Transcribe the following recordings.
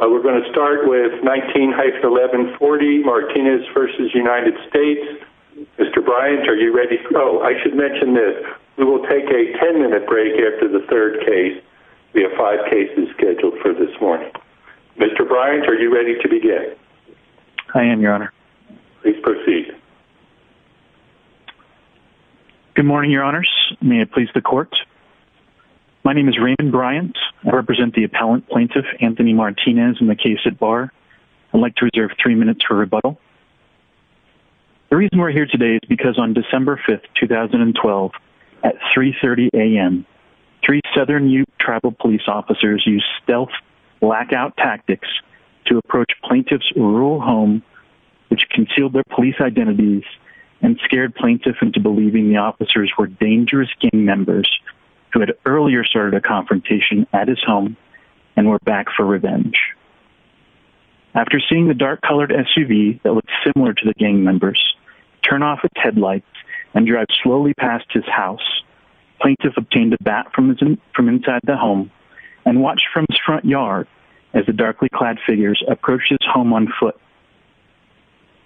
We're going to start with 19-1140, Martinez v. United States. Mr. Bryant, are you ready for... Oh, I should mention this. We will take a 10-minute break after the third case. We have five cases scheduled for this morning. Mr. Bryant, are you ready to begin? I am, Your Honor. Please proceed. Good morning, Your Honors. May it please the Court. My name is Raymond Bryant. I represent the appellant plaintiff, Anthony Martinez, in the case at Barr. I'd like to reserve three minutes for rebuttal. The reason we're here today is because on December 5th, 2012, at 3.30 a.m., three Southern Ute tribal police officers used stealth blackout tactics to approach plaintiffs' rural home, which concealed their police identities and scared plaintiffs into believing the officers were dangerous gang members who had earlier started a confrontation at his home and were back for revenge. After seeing the dark-colored SUV that looked similar to the gang members turn off its headlights and drive slowly past his house, plaintiffs obtained a bat from inside the home and watched from his front yard as the darkly clad figures approached his home on foot.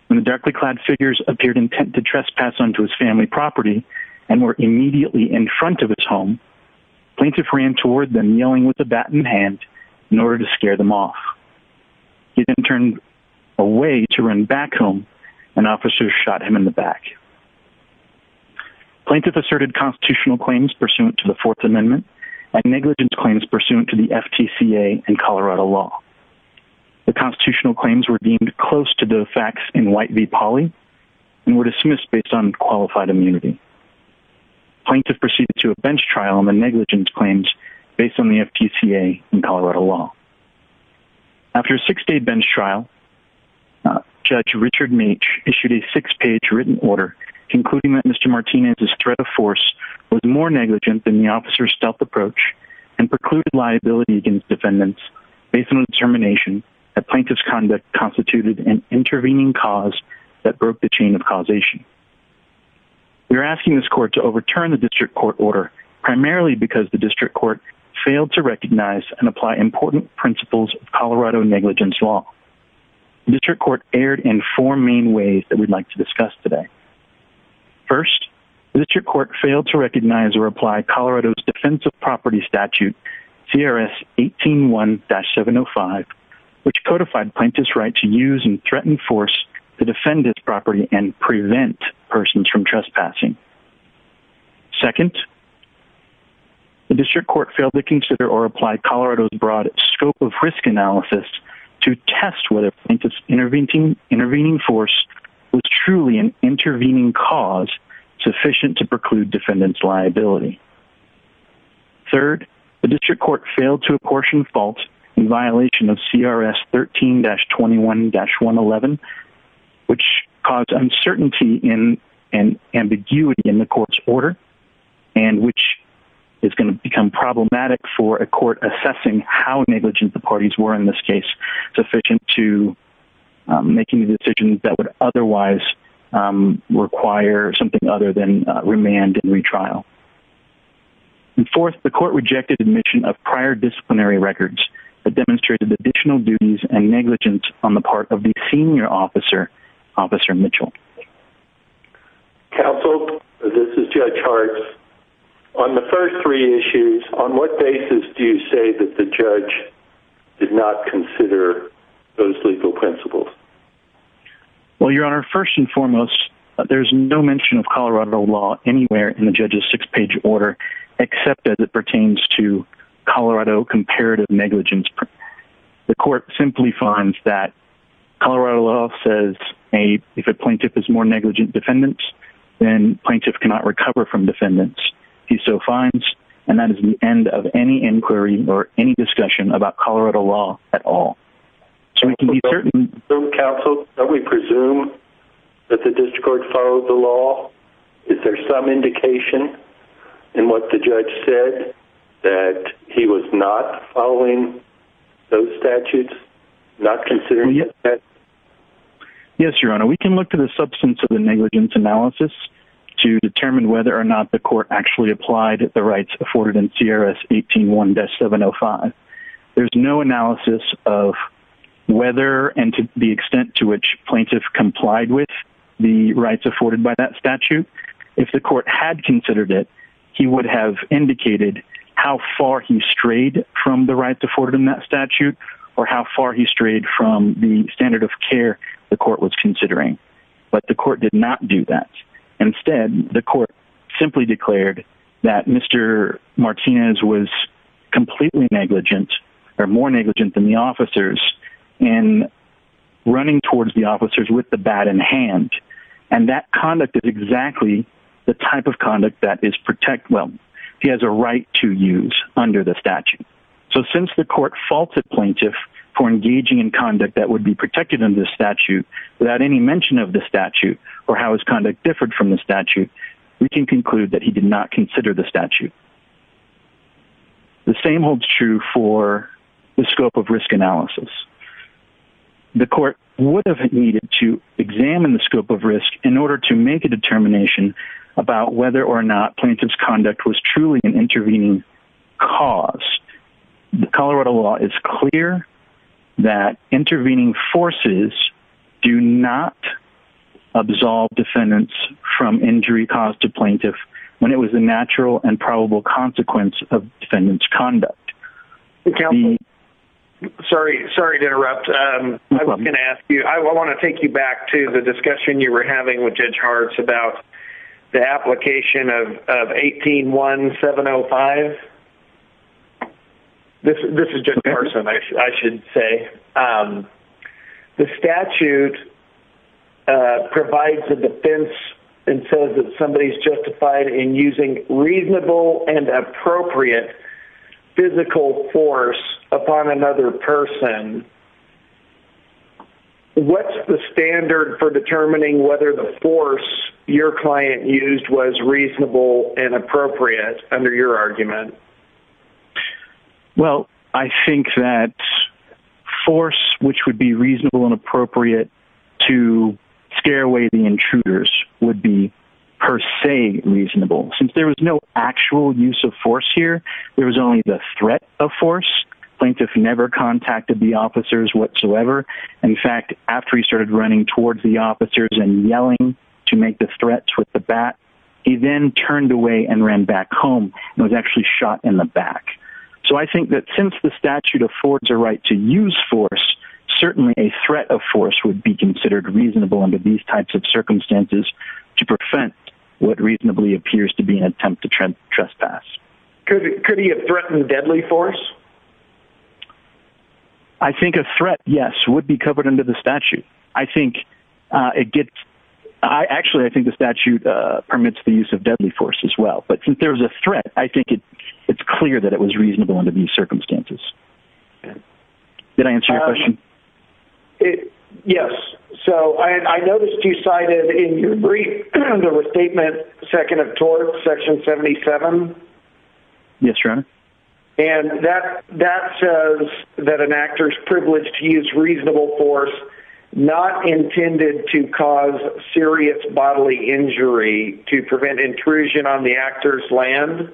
When the darkly clad figures appeared intent to trespass onto his family property and were immediately in front of his home, plaintiff ran toward them yelling with a bat in hand in order to scare them off. He then turned away to run back home, and officers shot him in the back. Plaintiff asserted constitutional claims pursuant to the Fourth Amendment and negligence claims pursuant to the FTCA and Colorado law. The constitutional claims were deemed close to the facts in white v. poly and were dismissed based on qualified immunity. Plaintiffs proceeded to a bench trial on the negligence claims based on the FTCA and Colorado law. After a six-day bench trial, Judge Richard Meech issued a six-page written order concluding that Mr. Martinez's threat of force was more negligent than the officers' stealth approach and precluded liability against defendants based on the determination that plaintiff's conduct constituted an intervening cause that broke the chain of causation. We are asking this court to overturn the district court order primarily because the district court failed to recognize and apply important principles of Colorado negligence law. The district court erred in four main ways that we'd like to discuss today. First, the district court failed to recognize or apply Colorado's defense of property statute, CRS 18-1-705, which codified plaintiff's right to use and threaten force to defend its property and prevent persons from trespassing. Second, the district court failed to consider or apply Colorado's broad scope of risk analysis to test whether plaintiff's intervening force was truly an intervening cause sufficient to preclude defendant's liability. Third, the district court failed to apportion faults in violation of CRS 13-21-111, which caused uncertainty and ambiguity in the court's order and which is going to become problematic for a court assessing how negligent the parties were in this case, sufficient to making decisions that would otherwise require something other than remand and retrial. Fourth, the court rejected admission of prior disciplinary records that demonstrated additional duties and negligence on the part of the senior officer, Officer Mitchell. Counsel, this is Judge Hartz. On the first three issues, on what basis do you say that the judge did not consider those legal principles? Well, Your Honor, first and foremost, there's no mention of Colorado law anywhere in the judge's six-page order except as it pertains to Colorado comparative negligence. The court simply finds that Colorado law says if a plaintiff is more negligent defendants, then plaintiff cannot recover from defendants. He so finds, and that is the end of any inquiry or any discussion about Colorado law at all. Counsel, don't we presume that the district court followed the law? Is there some indication in what the judge said that he was not following those statutes, not considering it? Yes, Your Honor. We can look to the substance of the negligence analysis to determine whether or not the court actually applied the rights afforded in CRS 18-1-705. There's no analysis of whether and to the extent to which plaintiff complied with the rights afforded by that statute. If the court had considered it, he would have indicated how far he strayed from the rights afforded in that statute or how far he strayed from the standard of care the court was considering. But the court did not do that. Instead, the court simply declared that Mr. Martinez was completely negligent or more negligent than the officers in running towards the officers with the bat in hand. And that conduct is exactly the type of conduct that is protect, well, he has a right to use under the statute. So since the court faults a plaintiff for engaging in conduct that would be protected under the statute without any mention of the statute or how his conduct differed from the statute, we can conclude that he did not consider the statute. The same holds true for the scope of risk analysis. The court would have needed to examine the scope of risk in order to make a determination about whether or not plaintiff's conduct was truly an intervening cause. The Colorado law is clear that intervening forces do not absolve defendants from injury caused to plaintiff when it was a natural and probable consequence of defendant's conduct. Sorry to interrupt. I want to take you back to the discussion you were having with Judge Hart about the application of 18-1-705. This is Judge Harson, I should say. The statute provides a defense and says that somebody is justified in using reasonable and appropriate physical force upon another person. What's the standard for determining whether the force your client used was reasonable and appropriate under your argument? Well, I think that force which would be reasonable and appropriate to scare away the intruders would be per se reasonable. Since there was no actual use of force here, there was only the threat of force. Plaintiff never contacted the officers whatsoever. In fact, after he started running towards the officers and yelling to make the threats with the bat, he then turned away and ran back home. He was actually shot in the back. So I think that since the statute affords a right to use force, certainly a threat of force would be considered reasonable under these types of circumstances to prevent what reasonably appears to be an attempt to trespass. Could he have threatened deadly force? I think a threat, yes, would be covered under the statute. I think it gets... Actually, I think the statute permits the use of deadly force as well. But since there was a threat, I think it's clear that it was reasonable under these circumstances. Did I answer your question? Yes. So I noticed you cited in your brief, the restatement second of tort, section 77. Yes, Your Honor. And that says that an actor's privilege to use reasonable force not intended to cause serious bodily injury to prevent intrusion on the actor's land.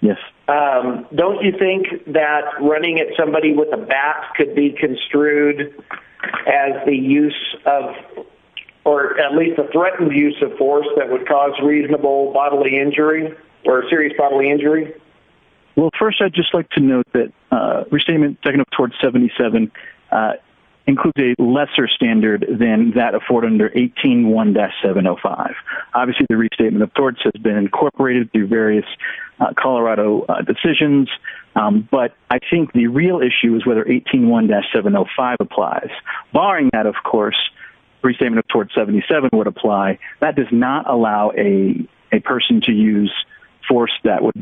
Yes. Don't you think that running at somebody with a bat could be construed as the use of... ...use of force that would cause reasonable bodily injury or serious bodily injury? Well, first, I'd just like to note that restatement second of tort 77 includes a lesser standard than that afforded under 18-1-705. Obviously, the restatement of torts has been incorporated through various Colorado decisions. But I think the real issue is whether 18-1-705 applies. Barring that, of course, restatement of tort 77 would apply, that does not allow a person to use force that would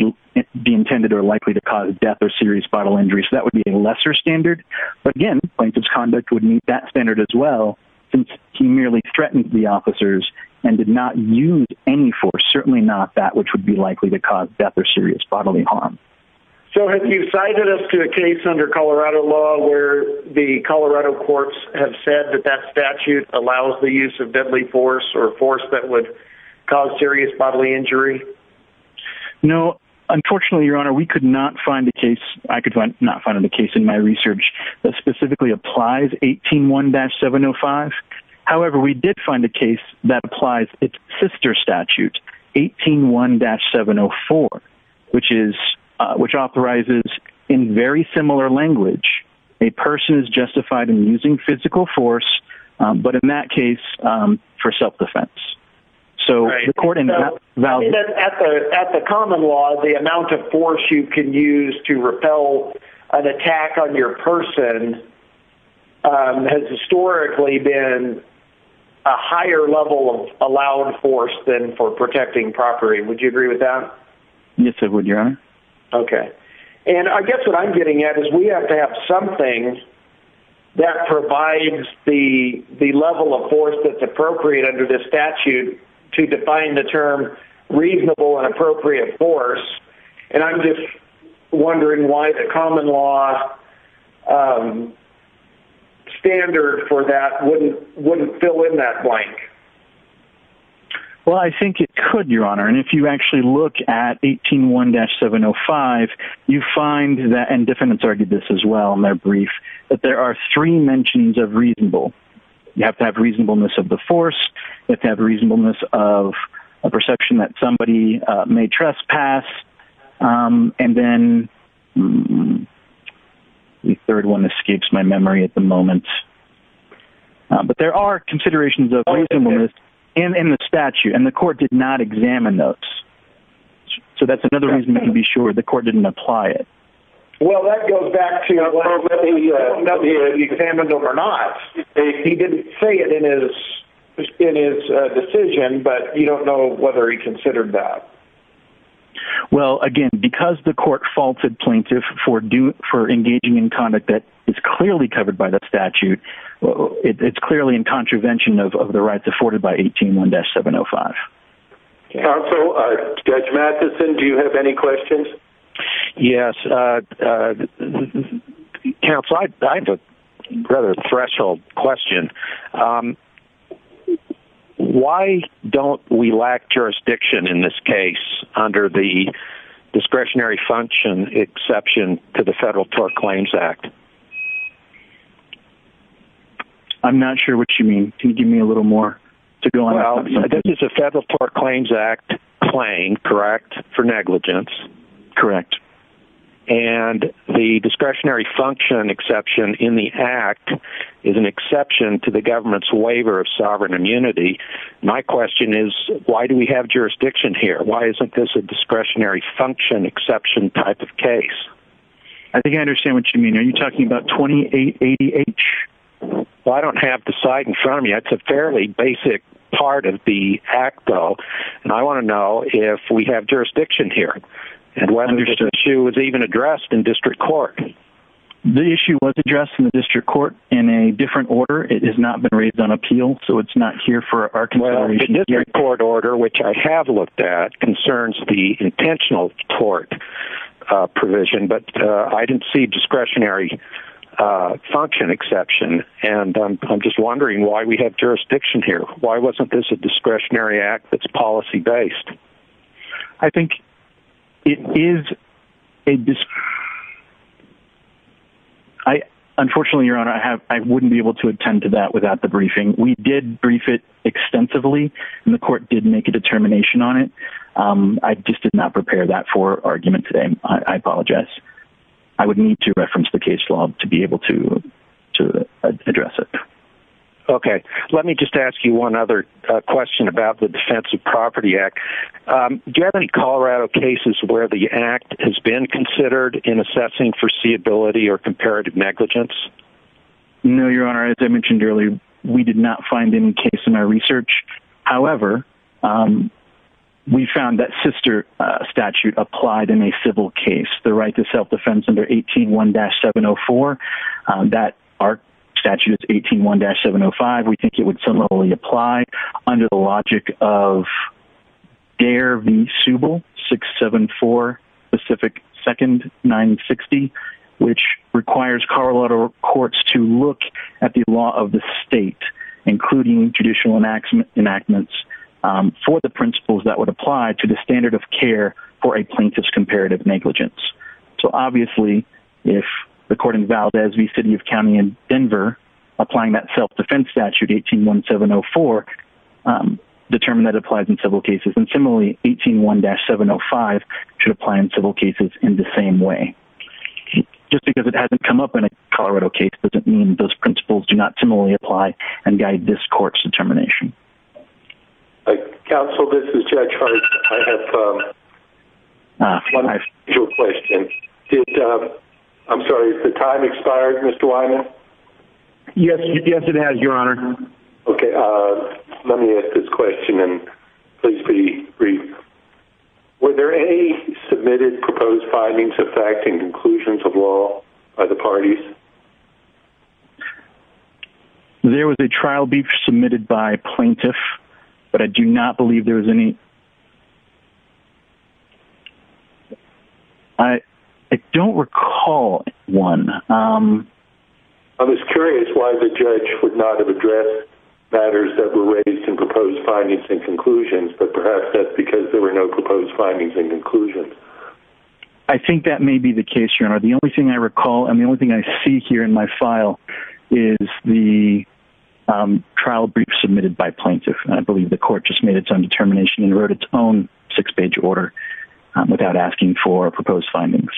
be intended or likely to cause death or serious bodily injury. So that would be a lesser standard. But again, plaintiff's conduct would meet that standard as well since he merely threatened the officers and did not use any force, certainly not that which would be likely to cause death or serious bodily harm. So have you cited us to a case under Colorado law where the Colorado courts have said that that statute allows the use of deadly force or force that would cause serious bodily injury? No. Unfortunately, Your Honor, we could not find a case, I could not find a case in my research that specifically applies 18-1-705. However, we did find a case that applies its sister statute, 18-1-704, which authorizes in very similar language, a person is justified in using physical force but in that case for self-defense. So according to that... At the common law, the amount of force you can use to repel an attack on your person has historically been a higher level of allowed force than for protecting property. Would you agree with that? Yes, I would, Your Honor. Okay. And I guess what I'm getting at is we have to have something that provides the level of force that's appropriate under the statute to define the term reasonable and appropriate force. And I'm just wondering why the common law standard for that wouldn't fill in that blank. Well, I think it could, Your Honor. And if you actually look at 18-1-705, you find that, and defendants argued this as well in their brief, that there are three mentions of reasonable. You have to have reasonableness of the force, you have to have reasonableness of a perception that somebody may trespass, and then the third one escapes my memory at the moment. But there are considerations of reasonableness in the statute, and the court did not examine those. So that's another reason we can be sure the court didn't apply it. Well, that goes back to whether or not he examined them or not. He didn't say it in his decision, but you don't know whether he considered that. Well, again, because the court faulted plaintiff for engaging in conduct that is clearly covered by the statute, it's clearly in contravention of the rights afforded by 18-1-705. Counsel, Judge Matheson, do you have any questions? Yes. Counsel, I have a rather threshold question. Why don't we lack jurisdiction in this case under the discretionary function exception to the Federal Tort Claims Act? I'm not sure what you mean. Can you give me a little more to go on? Well, this is a Federal Tort Claims Act claim, correct, for negligence? Correct. And the discretionary function exception in the act is an exception to the government's waiver of sovereign immunity. My question is, why do we have jurisdiction here? Why isn't this a discretionary function exception type of case? I think I understand what you mean. Are you talking about 2880H? Well, I don't have the site in front of me. That's a fairly basic part of the act, though, and I want to know if we have jurisdiction here and whether this issue was even addressed in district court. The issue was addressed in the district court in a different order. It has not been raised on appeal, so it's not here for our consideration. Well, the district court order, which I have looked at, concerns the intentional court provision, but I didn't see discretionary function exception, and I'm just wondering why we have jurisdiction here. Why wasn't this a discretionary act that's policy-based? I think it is a... Unfortunately, Your Honor, I wouldn't be able to attend to that without the briefing. We did brief it extensively, and the court did make a determination on it. I just did not prepare that for argument today. I apologize. I would need to reference the case law to be able to address it. Okay, let me just ask you one other question about the Defense of Property Act. Do you have any Colorado cases where the act has been considered in assessing foreseeability or comparative negligence? No, Your Honor. As I mentioned earlier, we did not find any case in our research. However, we found that sister statute applied in a civil case. The right to self-defense under 181-704. Our statute is 181-705. We think it would similarly apply under the logic of Dare v. Subel, 674 Pacific 2nd 960, which requires Colorado courts to look at the law of the state, including judicial enactments, for the principles that would apply to the standard of care for a plaintiff's comparative negligence. So, obviously, if, according to Valdez v. City of County in Denver, applying that self-defense statute, 181-704, determine that it applies in civil cases. And similarly, 181-705 should apply in civil cases in the same way. Just because it hasn't come up in a Colorado case doesn't mean those principles do not similarly apply and guide this court's determination. Counsel, this is Judge Hart. I have one additional question. I'm sorry, has the time expired, Mr. Wyman? Yes, it has, Your Honor. Okay, let me ask this question, and please be brief. Were there any submitted proposed findings affecting conclusions of law by the parties? There was a trial brief submitted by a plaintiff, but I do not believe there was any. I don't recall one. I was curious why the judge would not have addressed matters that were raised in proposed findings and conclusions, but perhaps that's because there were no proposed findings and conclusions. I think that may be the case, Your Honor. The only thing I recall and the only thing I see here in my file is the trial brief submitted by plaintiff. I believe the court just made its own determination and wrote its own six-page order without asking for proposed findings.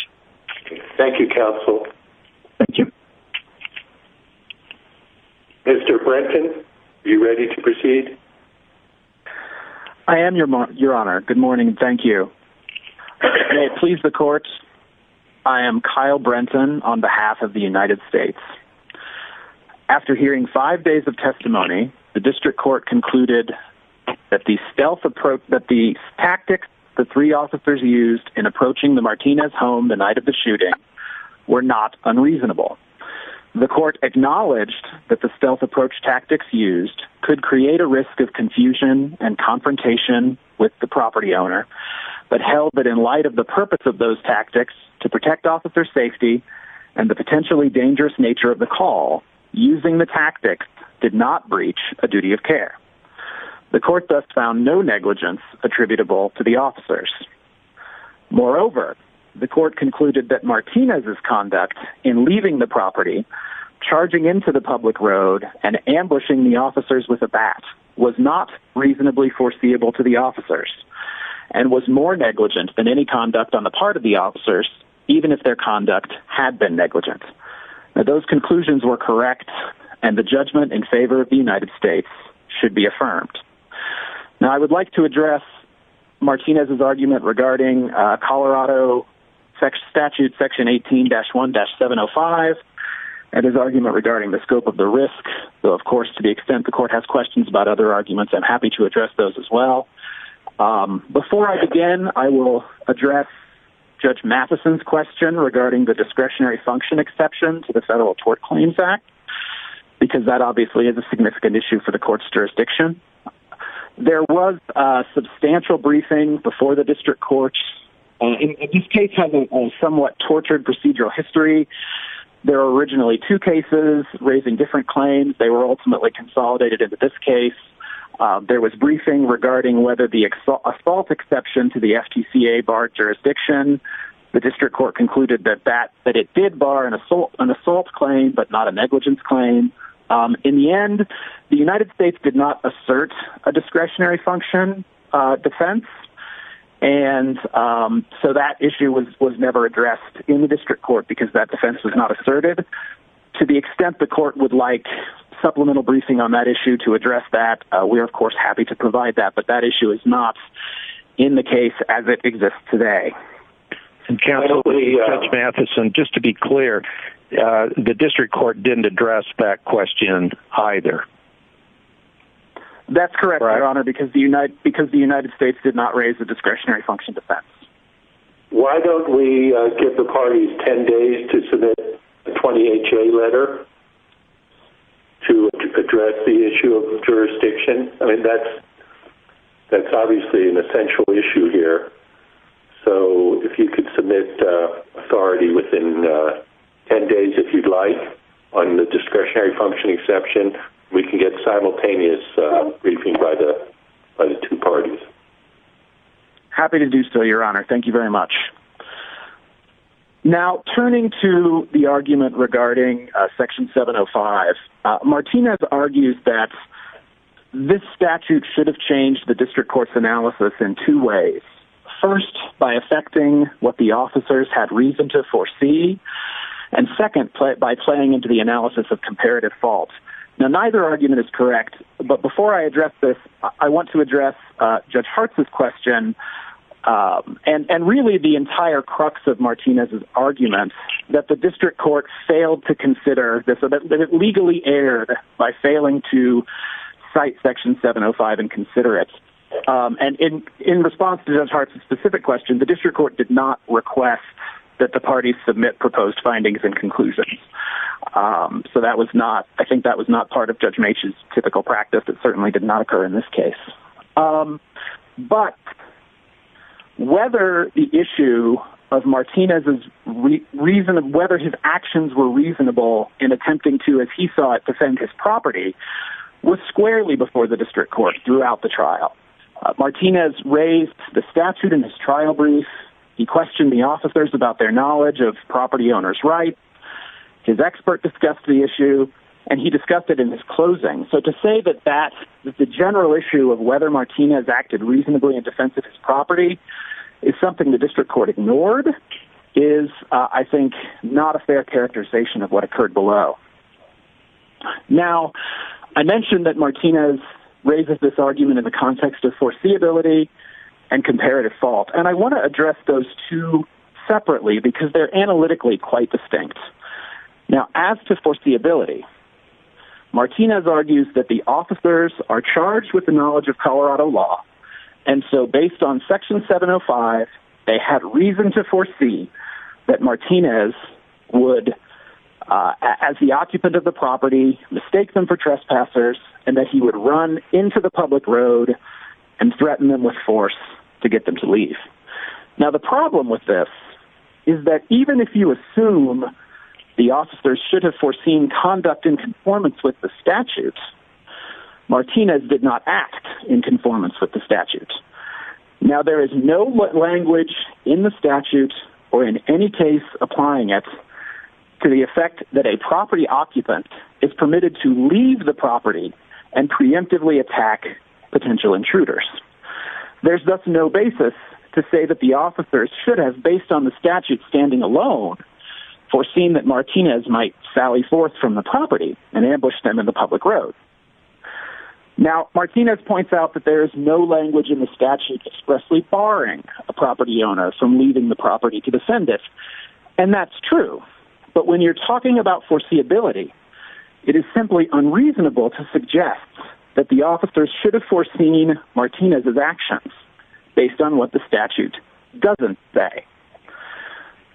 Thank you, Counsel. Thank you. Mr. Brenton, are you ready to proceed? I am, Your Honor. Good morning and thank you. May it please the court, I am Kyle Brenton on behalf of the United States. After hearing five days of testimony, the district court concluded that the tactics the three officers used in approaching the Martinez home the night of the shooting were not unreasonable. The court acknowledged that the stealth approach tactics used could create a risk of confusion and confrontation with the property owner, but held that in light of the purpose of those tactics to protect officer safety and the potentially dangerous nature of the call, using the tactics did not breach a duty of care. The court thus found no negligence attributable to the officers. Moreover, the court concluded that Martinez's conduct in leaving the property, charging into the public road and ambushing the officers with a bat was not reasonably foreseeable to the officers and was more negligent than any conduct on the part of the officers, even if their conduct had been negligent. Those conclusions were correct and the judgment in favor of the United States should be affirmed. Now, I would like to address Martinez's argument regarding Colorado statute section 18-1-705 and his argument regarding the scope of the risk. Of course, to the extent the court has questions about other arguments, I'm happy to address those as well. Before I begin, I will address Judge Matheson's question regarding the discretionary function exception to the Federal Tort Claims Act because that obviously is a significant issue for the court's jurisdiction. There was substantial briefing before the district courts. These cases have a somewhat tortured procedural history. There were originally two cases raising different claims. They were ultimately consolidated in this case. There was briefing regarding whether the assault exception to the FTCA barred jurisdiction. The district court concluded that it did bar an assault claim but not a negligence claim. In the end, the United States did not assert a discretionary function defense, and so that issue was never addressed in the district court because that defense was not asserted. To the extent the court would like supplemental briefing on that issue to address that, we are, of course, happy to provide that, but that issue is not in the case as it exists today. Counsel, Judge Matheson, just to be clear, the district court didn't address that question either. That's correct, Your Honor, because the United States did not raise a discretionary function defense. Why don't we give the parties 10 days to submit a 20HA letter to address the issue of jurisdiction? That's obviously an essential issue here. So if you could submit authority within 10 days, if you'd like, on the discretionary function exception, we can get simultaneous briefing by the two parties. Happy to do so, Your Honor. Thank you very much. Now, turning to the argument regarding Section 705, Martinez argues that this statute should have changed the district court's analysis in two ways. First, by affecting what the officers had reason to foresee, and second, by playing into the analysis of comparative fault. Now, neither argument is correct, but before I address this, I want to address Judge Hartz's question and really the entire crux of Martinez's argument that the district court failed to consider that it legally erred by failing to cite Section 705 and consider it. And in response to Judge Hartz's specific question, the district court did not request that the parties submit proposed findings and conclusions. So I think that was not part of Judge Maitch's typical practice. It certainly did not occur in this case. But whether the issue of Martinez's reason of whether his actions were reasonable in attempting to, as he saw it, defend his property, was squarely before the district court throughout the trial. Martinez raised the statute in his trial brief. He questioned the officers about their knowledge of property owners' rights. His expert discussed the issue, and he discussed it in his closing. So to say that the general issue of whether Martinez acted reasonably in defense of his property is something the district court ignored is, I think, not a fair characterization of what occurred below. Now, I mentioned that Martinez raises this argument in the context of foreseeability and comparative fault, and I want to address those two separately because they're analytically quite distinct. Now, as to foreseeability, Martinez argues that the officers are charged with the knowledge of Colorado law, and so based on Section 705, they had reason to foresee that Martinez would, as the occupant of the property, mistake them for trespassers and that he would run into the public road and threaten them with force to get them to leave. Now, the problem with this is that even if you assume the officers should have foreseen conduct in conformance with the statute, Martinez did not act in conformance with the statute. Now, there is no language in the statute or in any case applying it to the effect that a property occupant is permitted to leave the property and preemptively attack potential intruders. There's thus no basis to say that the officers should have, based on the statute standing alone, foreseen that Martinez might sally forth from the property and ambush them in the public road. Now, Martinez points out that there is no language in the statute expressly barring a property owner from leaving the property to defend it, and that's true, but when you're talking about foreseeability, it is simply unreasonable to suggest that the officers should have foreseen Martinez's actions based on what the statute doesn't say.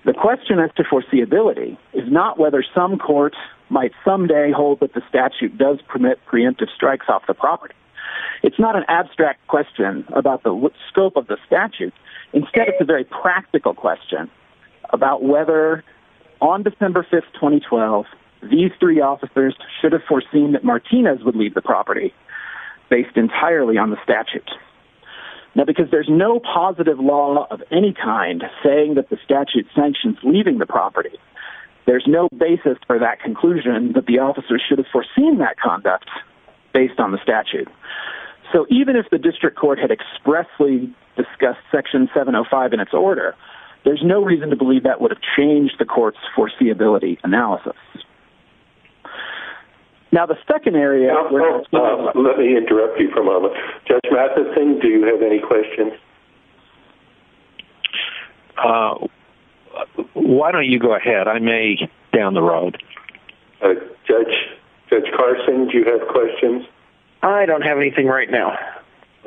The question as to foreseeability is not whether some courts might someday hold that the statute does permit preemptive strikes off the property. It's not an abstract question about the scope of the statute. Instead, it's a very practical question about whether on December 5, 2012, these three officers should have foreseen that Martinez would leave the property based entirely on the statute. Now, because there's no positive law of any kind saying that the statute sanctions leaving the property, there's no basis for that conclusion that the officers should have foreseen that conduct based on the statute. So, even if the district court had expressly discussed Section 705 in its order, there's no reason to believe that would have changed the court's foreseeability analysis. Now, the second area... Let me interrupt you for a moment. Judge Matheson, do you have any questions? Why don't you go ahead? I may get down the road. Judge Carson, do you have questions? I don't have anything right now.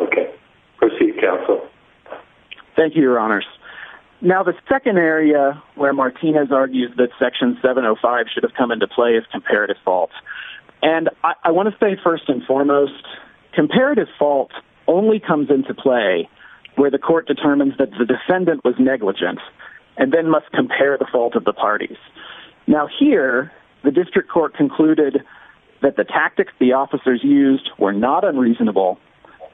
Okay. Proceed, counsel. Thank you, Your Honors. Now, the second area where Martinez argues that Section 705 should have come into play is comparative fault. And I want to say first and foremost, comparative fault only comes into play where the court determines that the defendant was negligent and then must compare the fault of the parties. Now, here, the district court concluded that the tactics the officers used were not unreasonable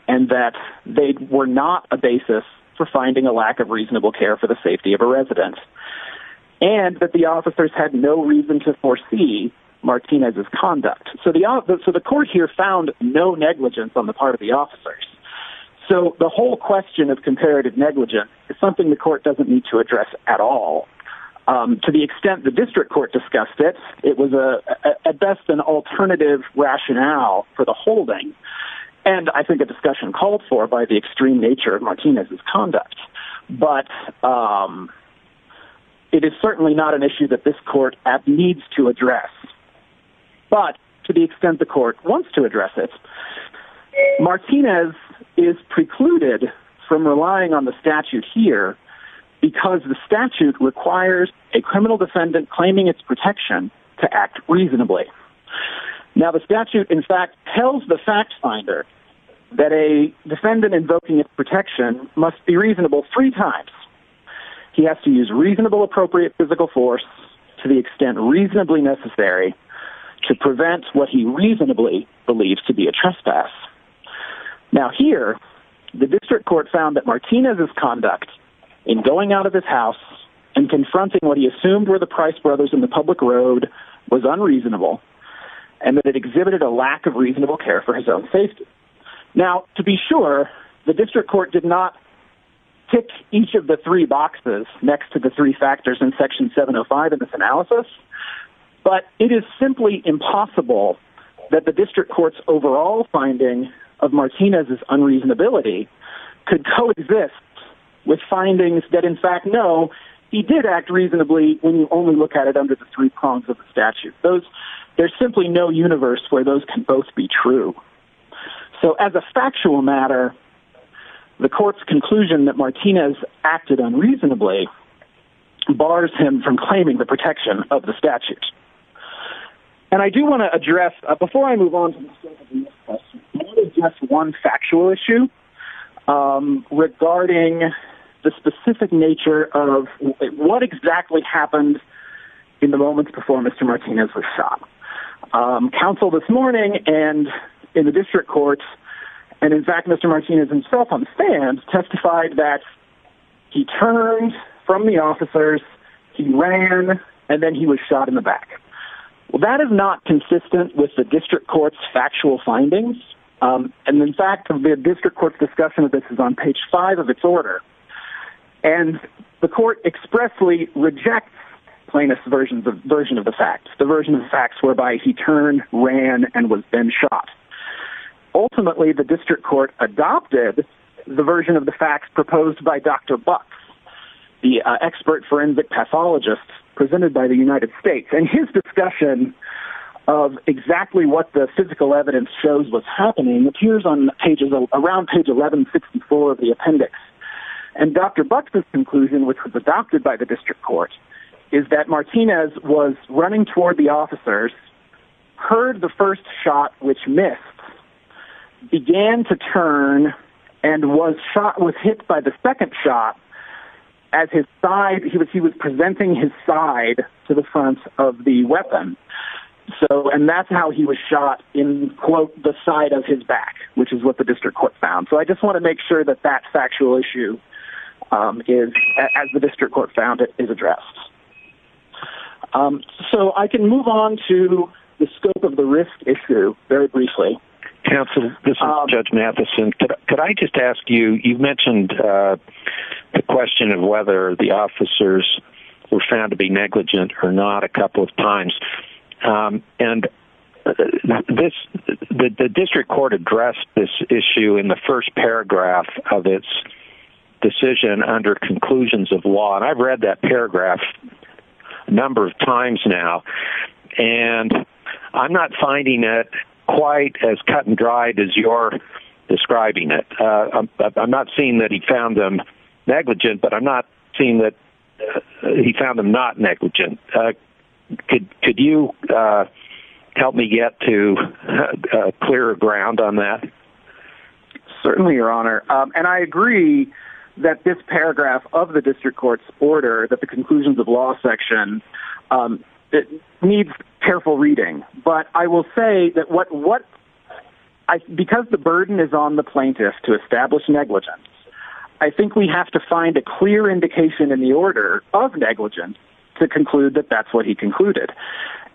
and that they were not a basis for finding a lack of reasonable care for the safety of a resident and that the officers had no reason to foresee Martinez's conduct. So, the court here found no negligence on the part of the officers. So, the whole question of comparative negligence is something the court doesn't need to address at all to the extent the district court discussed it. It was at best an alternative rationale for the holding and I think a discussion called for by the extreme nature of Martinez's conduct. But it is certainly not an issue that this court needs to address. But to the extent the court wants to address it, this is precluded from relying on the statute here because the statute requires a criminal defendant claiming its protection to act reasonably. Now, the statute, in fact, tells the fact finder that a defendant invoking its protection must be reasonable three times. He has to use reasonable appropriate physical force to the extent reasonably necessary to prevent what he reasonably believes to be a trespass. Now, here, the district court found that Martinez's conduct in going out of his house and confronting what he assumed were the Price brothers in the public road was unreasonable and that it exhibited a lack of reasonable care for his own safety. Now, to be sure, the district court did not pick each of the three boxes next to the three factors in section 705 of this analysis. But it is simply impossible that the district court's overall finding of Martinez's unreasonability could coexist with findings that, in fact, know he did act reasonably when you only look at it under the three prongs of the statute. There's simply no universe where those can both be true. So as a factual matter, the court's conclusion that Martinez acted unreasonably bars him from claiming the protection of the statute. And I do want to address, before I move on to the next question, just one factual issue regarding the specific nature of what exactly happened in the moments before Mr. Martinez was shot. Counsel this morning and in the district court, and in fact Mr. Martinez himself on stand, testified that he turned from the officers, he ran, and then he was shot in the back. Well, that is not consistent with the district court's factual findings. And in fact, the district court's discussion of this is on page 5 of its order. And the court expressly rejects Plaintiff's version of the facts, the version of the facts whereby he turned, ran, and was then shot. Ultimately, the district court adopted the version of the facts proposed by Dr. Bux, the expert forensic pathologist presented by the United States. And his discussion of exactly what the physical evidence shows was happening appears around page 1164 of the appendix. And Dr. Bux's conclusion, which was adopted by the district court, is that Martinez was running toward the officers, heard the first shot which missed, began to turn, and was hit by the second shot as he was presenting his side to the front of the weapon. And that's how he was shot in, quote, the side of his back, which is what the district court found. So I just want to make sure that that factual issue is, as the district court found it, is addressed. So I can move on to the scope of the risk issue very briefly. Counsel, this is Judge Mathison. Could I just ask you, you mentioned the question of whether the officers were found to be negligent or not a couple of times. And the district court addressed this issue in the first paragraph of its decision under conclusions of law. And I've read that paragraph a number of times now. And I'm not finding it quite as cut and dried as you're describing it. I'm not saying that he found them negligent, but I'm not saying that he found them not negligent. Could you help me get to clearer ground on that? Certainly, Your Honor. And I agree that this paragraph of the district court's order, that the conclusions of law section, needs careful reading. But I will say that because the burden is on the plaintiff to establish negligence, I think we have to find a clear indication in the order of negligence to conclude that that's what he concluded.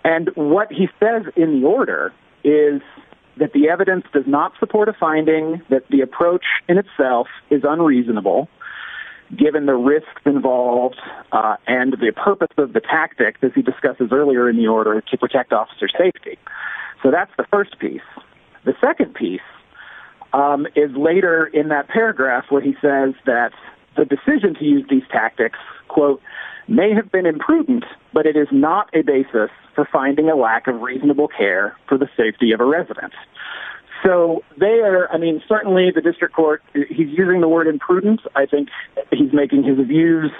And what he says in the order is that the evidence does not support a finding that the approach in itself is unreasonable, given the risks involved and the purpose of the tactic that he discusses earlier in the order to protect officer safety. So that's the first piece. The second piece is later in that paragraph where he says that the decision to use these tactics, quote, may have been imprudent, but it is not a basis for finding a lack of reasonable care for the safety of a resident. So they are, I mean, certainly the district court, he's using the word imprudent. I think he's making his views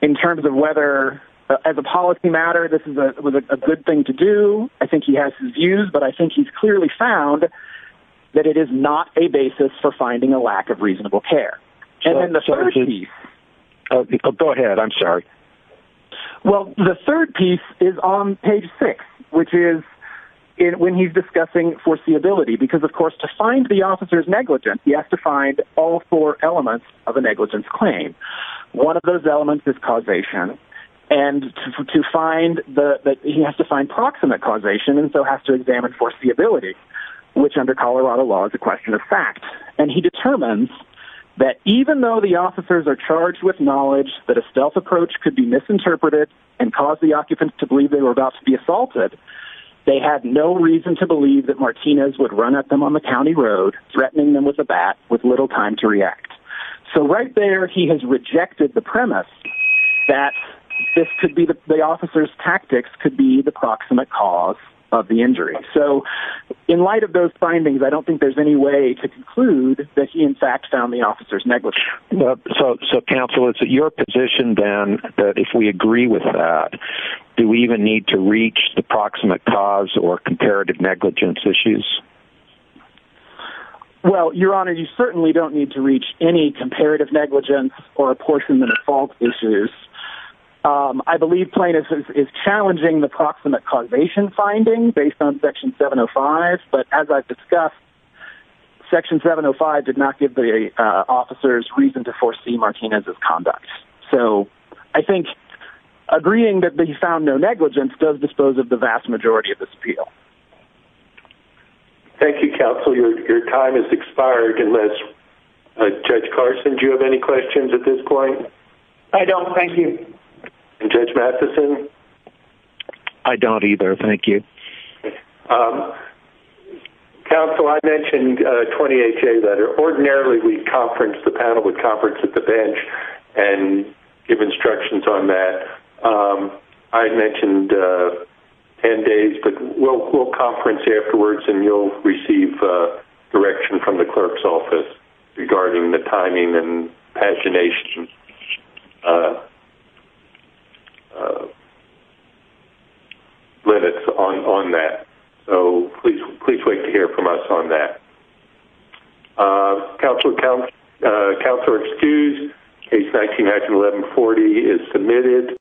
in terms of whether, as a policy matter, this was a good thing to do. I think he has his views, but I think he's clearly found that it is not a basis for finding a lack of reasonable care. And then the third piece. Go ahead, I'm sorry. Well, the third piece is on page six, which is when he's discussing foreseeability, because, of course, to find the officer's negligence, he has to find all four elements of a negligence claim. One of those elements is causation, and he has to find proximate causation and so has to examine foreseeability, which under Colorado law is a question of fact. And he determines that even though the officers are charged with knowledge that a stealth approach could be misinterpreted and cause the occupants to believe they were about to be assaulted, they had no reason to believe that Martinez would run at them on the county road, threatening them with a bat with little time to react. So right there he has rejected the premise that the officer's tactics could be the proximate cause of the injury. So in light of those findings, I don't think there's any way to conclude that he, in fact, found the officers negligent. So, counsel, it's at your position, then, that if we agree with that, do we even need to reach the proximate cause or comparative negligence issues? Well, Your Honor, you certainly don't need to reach any comparative negligence or apportionment of fault issues. I believe Plaintiff's is challenging the proximate causation finding based on Section 705, but as I've discussed, Section 705 did not give the officers reason to foresee Martinez's conduct. So I think agreeing that he found no negligence does dispose of the vast majority of this appeal. Thank you, counsel. Your time has expired, unless, Judge Carson, do you have any questions at this point? I don't, thank you. And Judge Matheson? I don't either, thank you. Counsel, I mentioned 20HA, that ordinarily we conference, the panel would conference at the bench and give instructions on that. I mentioned 10 days, but we'll conference afterwards, and you'll receive direction from the clerk's office regarding the timing and pagination limits on that. So please wait to hear from us on that. Counselor excused. Case 19-1140 is submitted.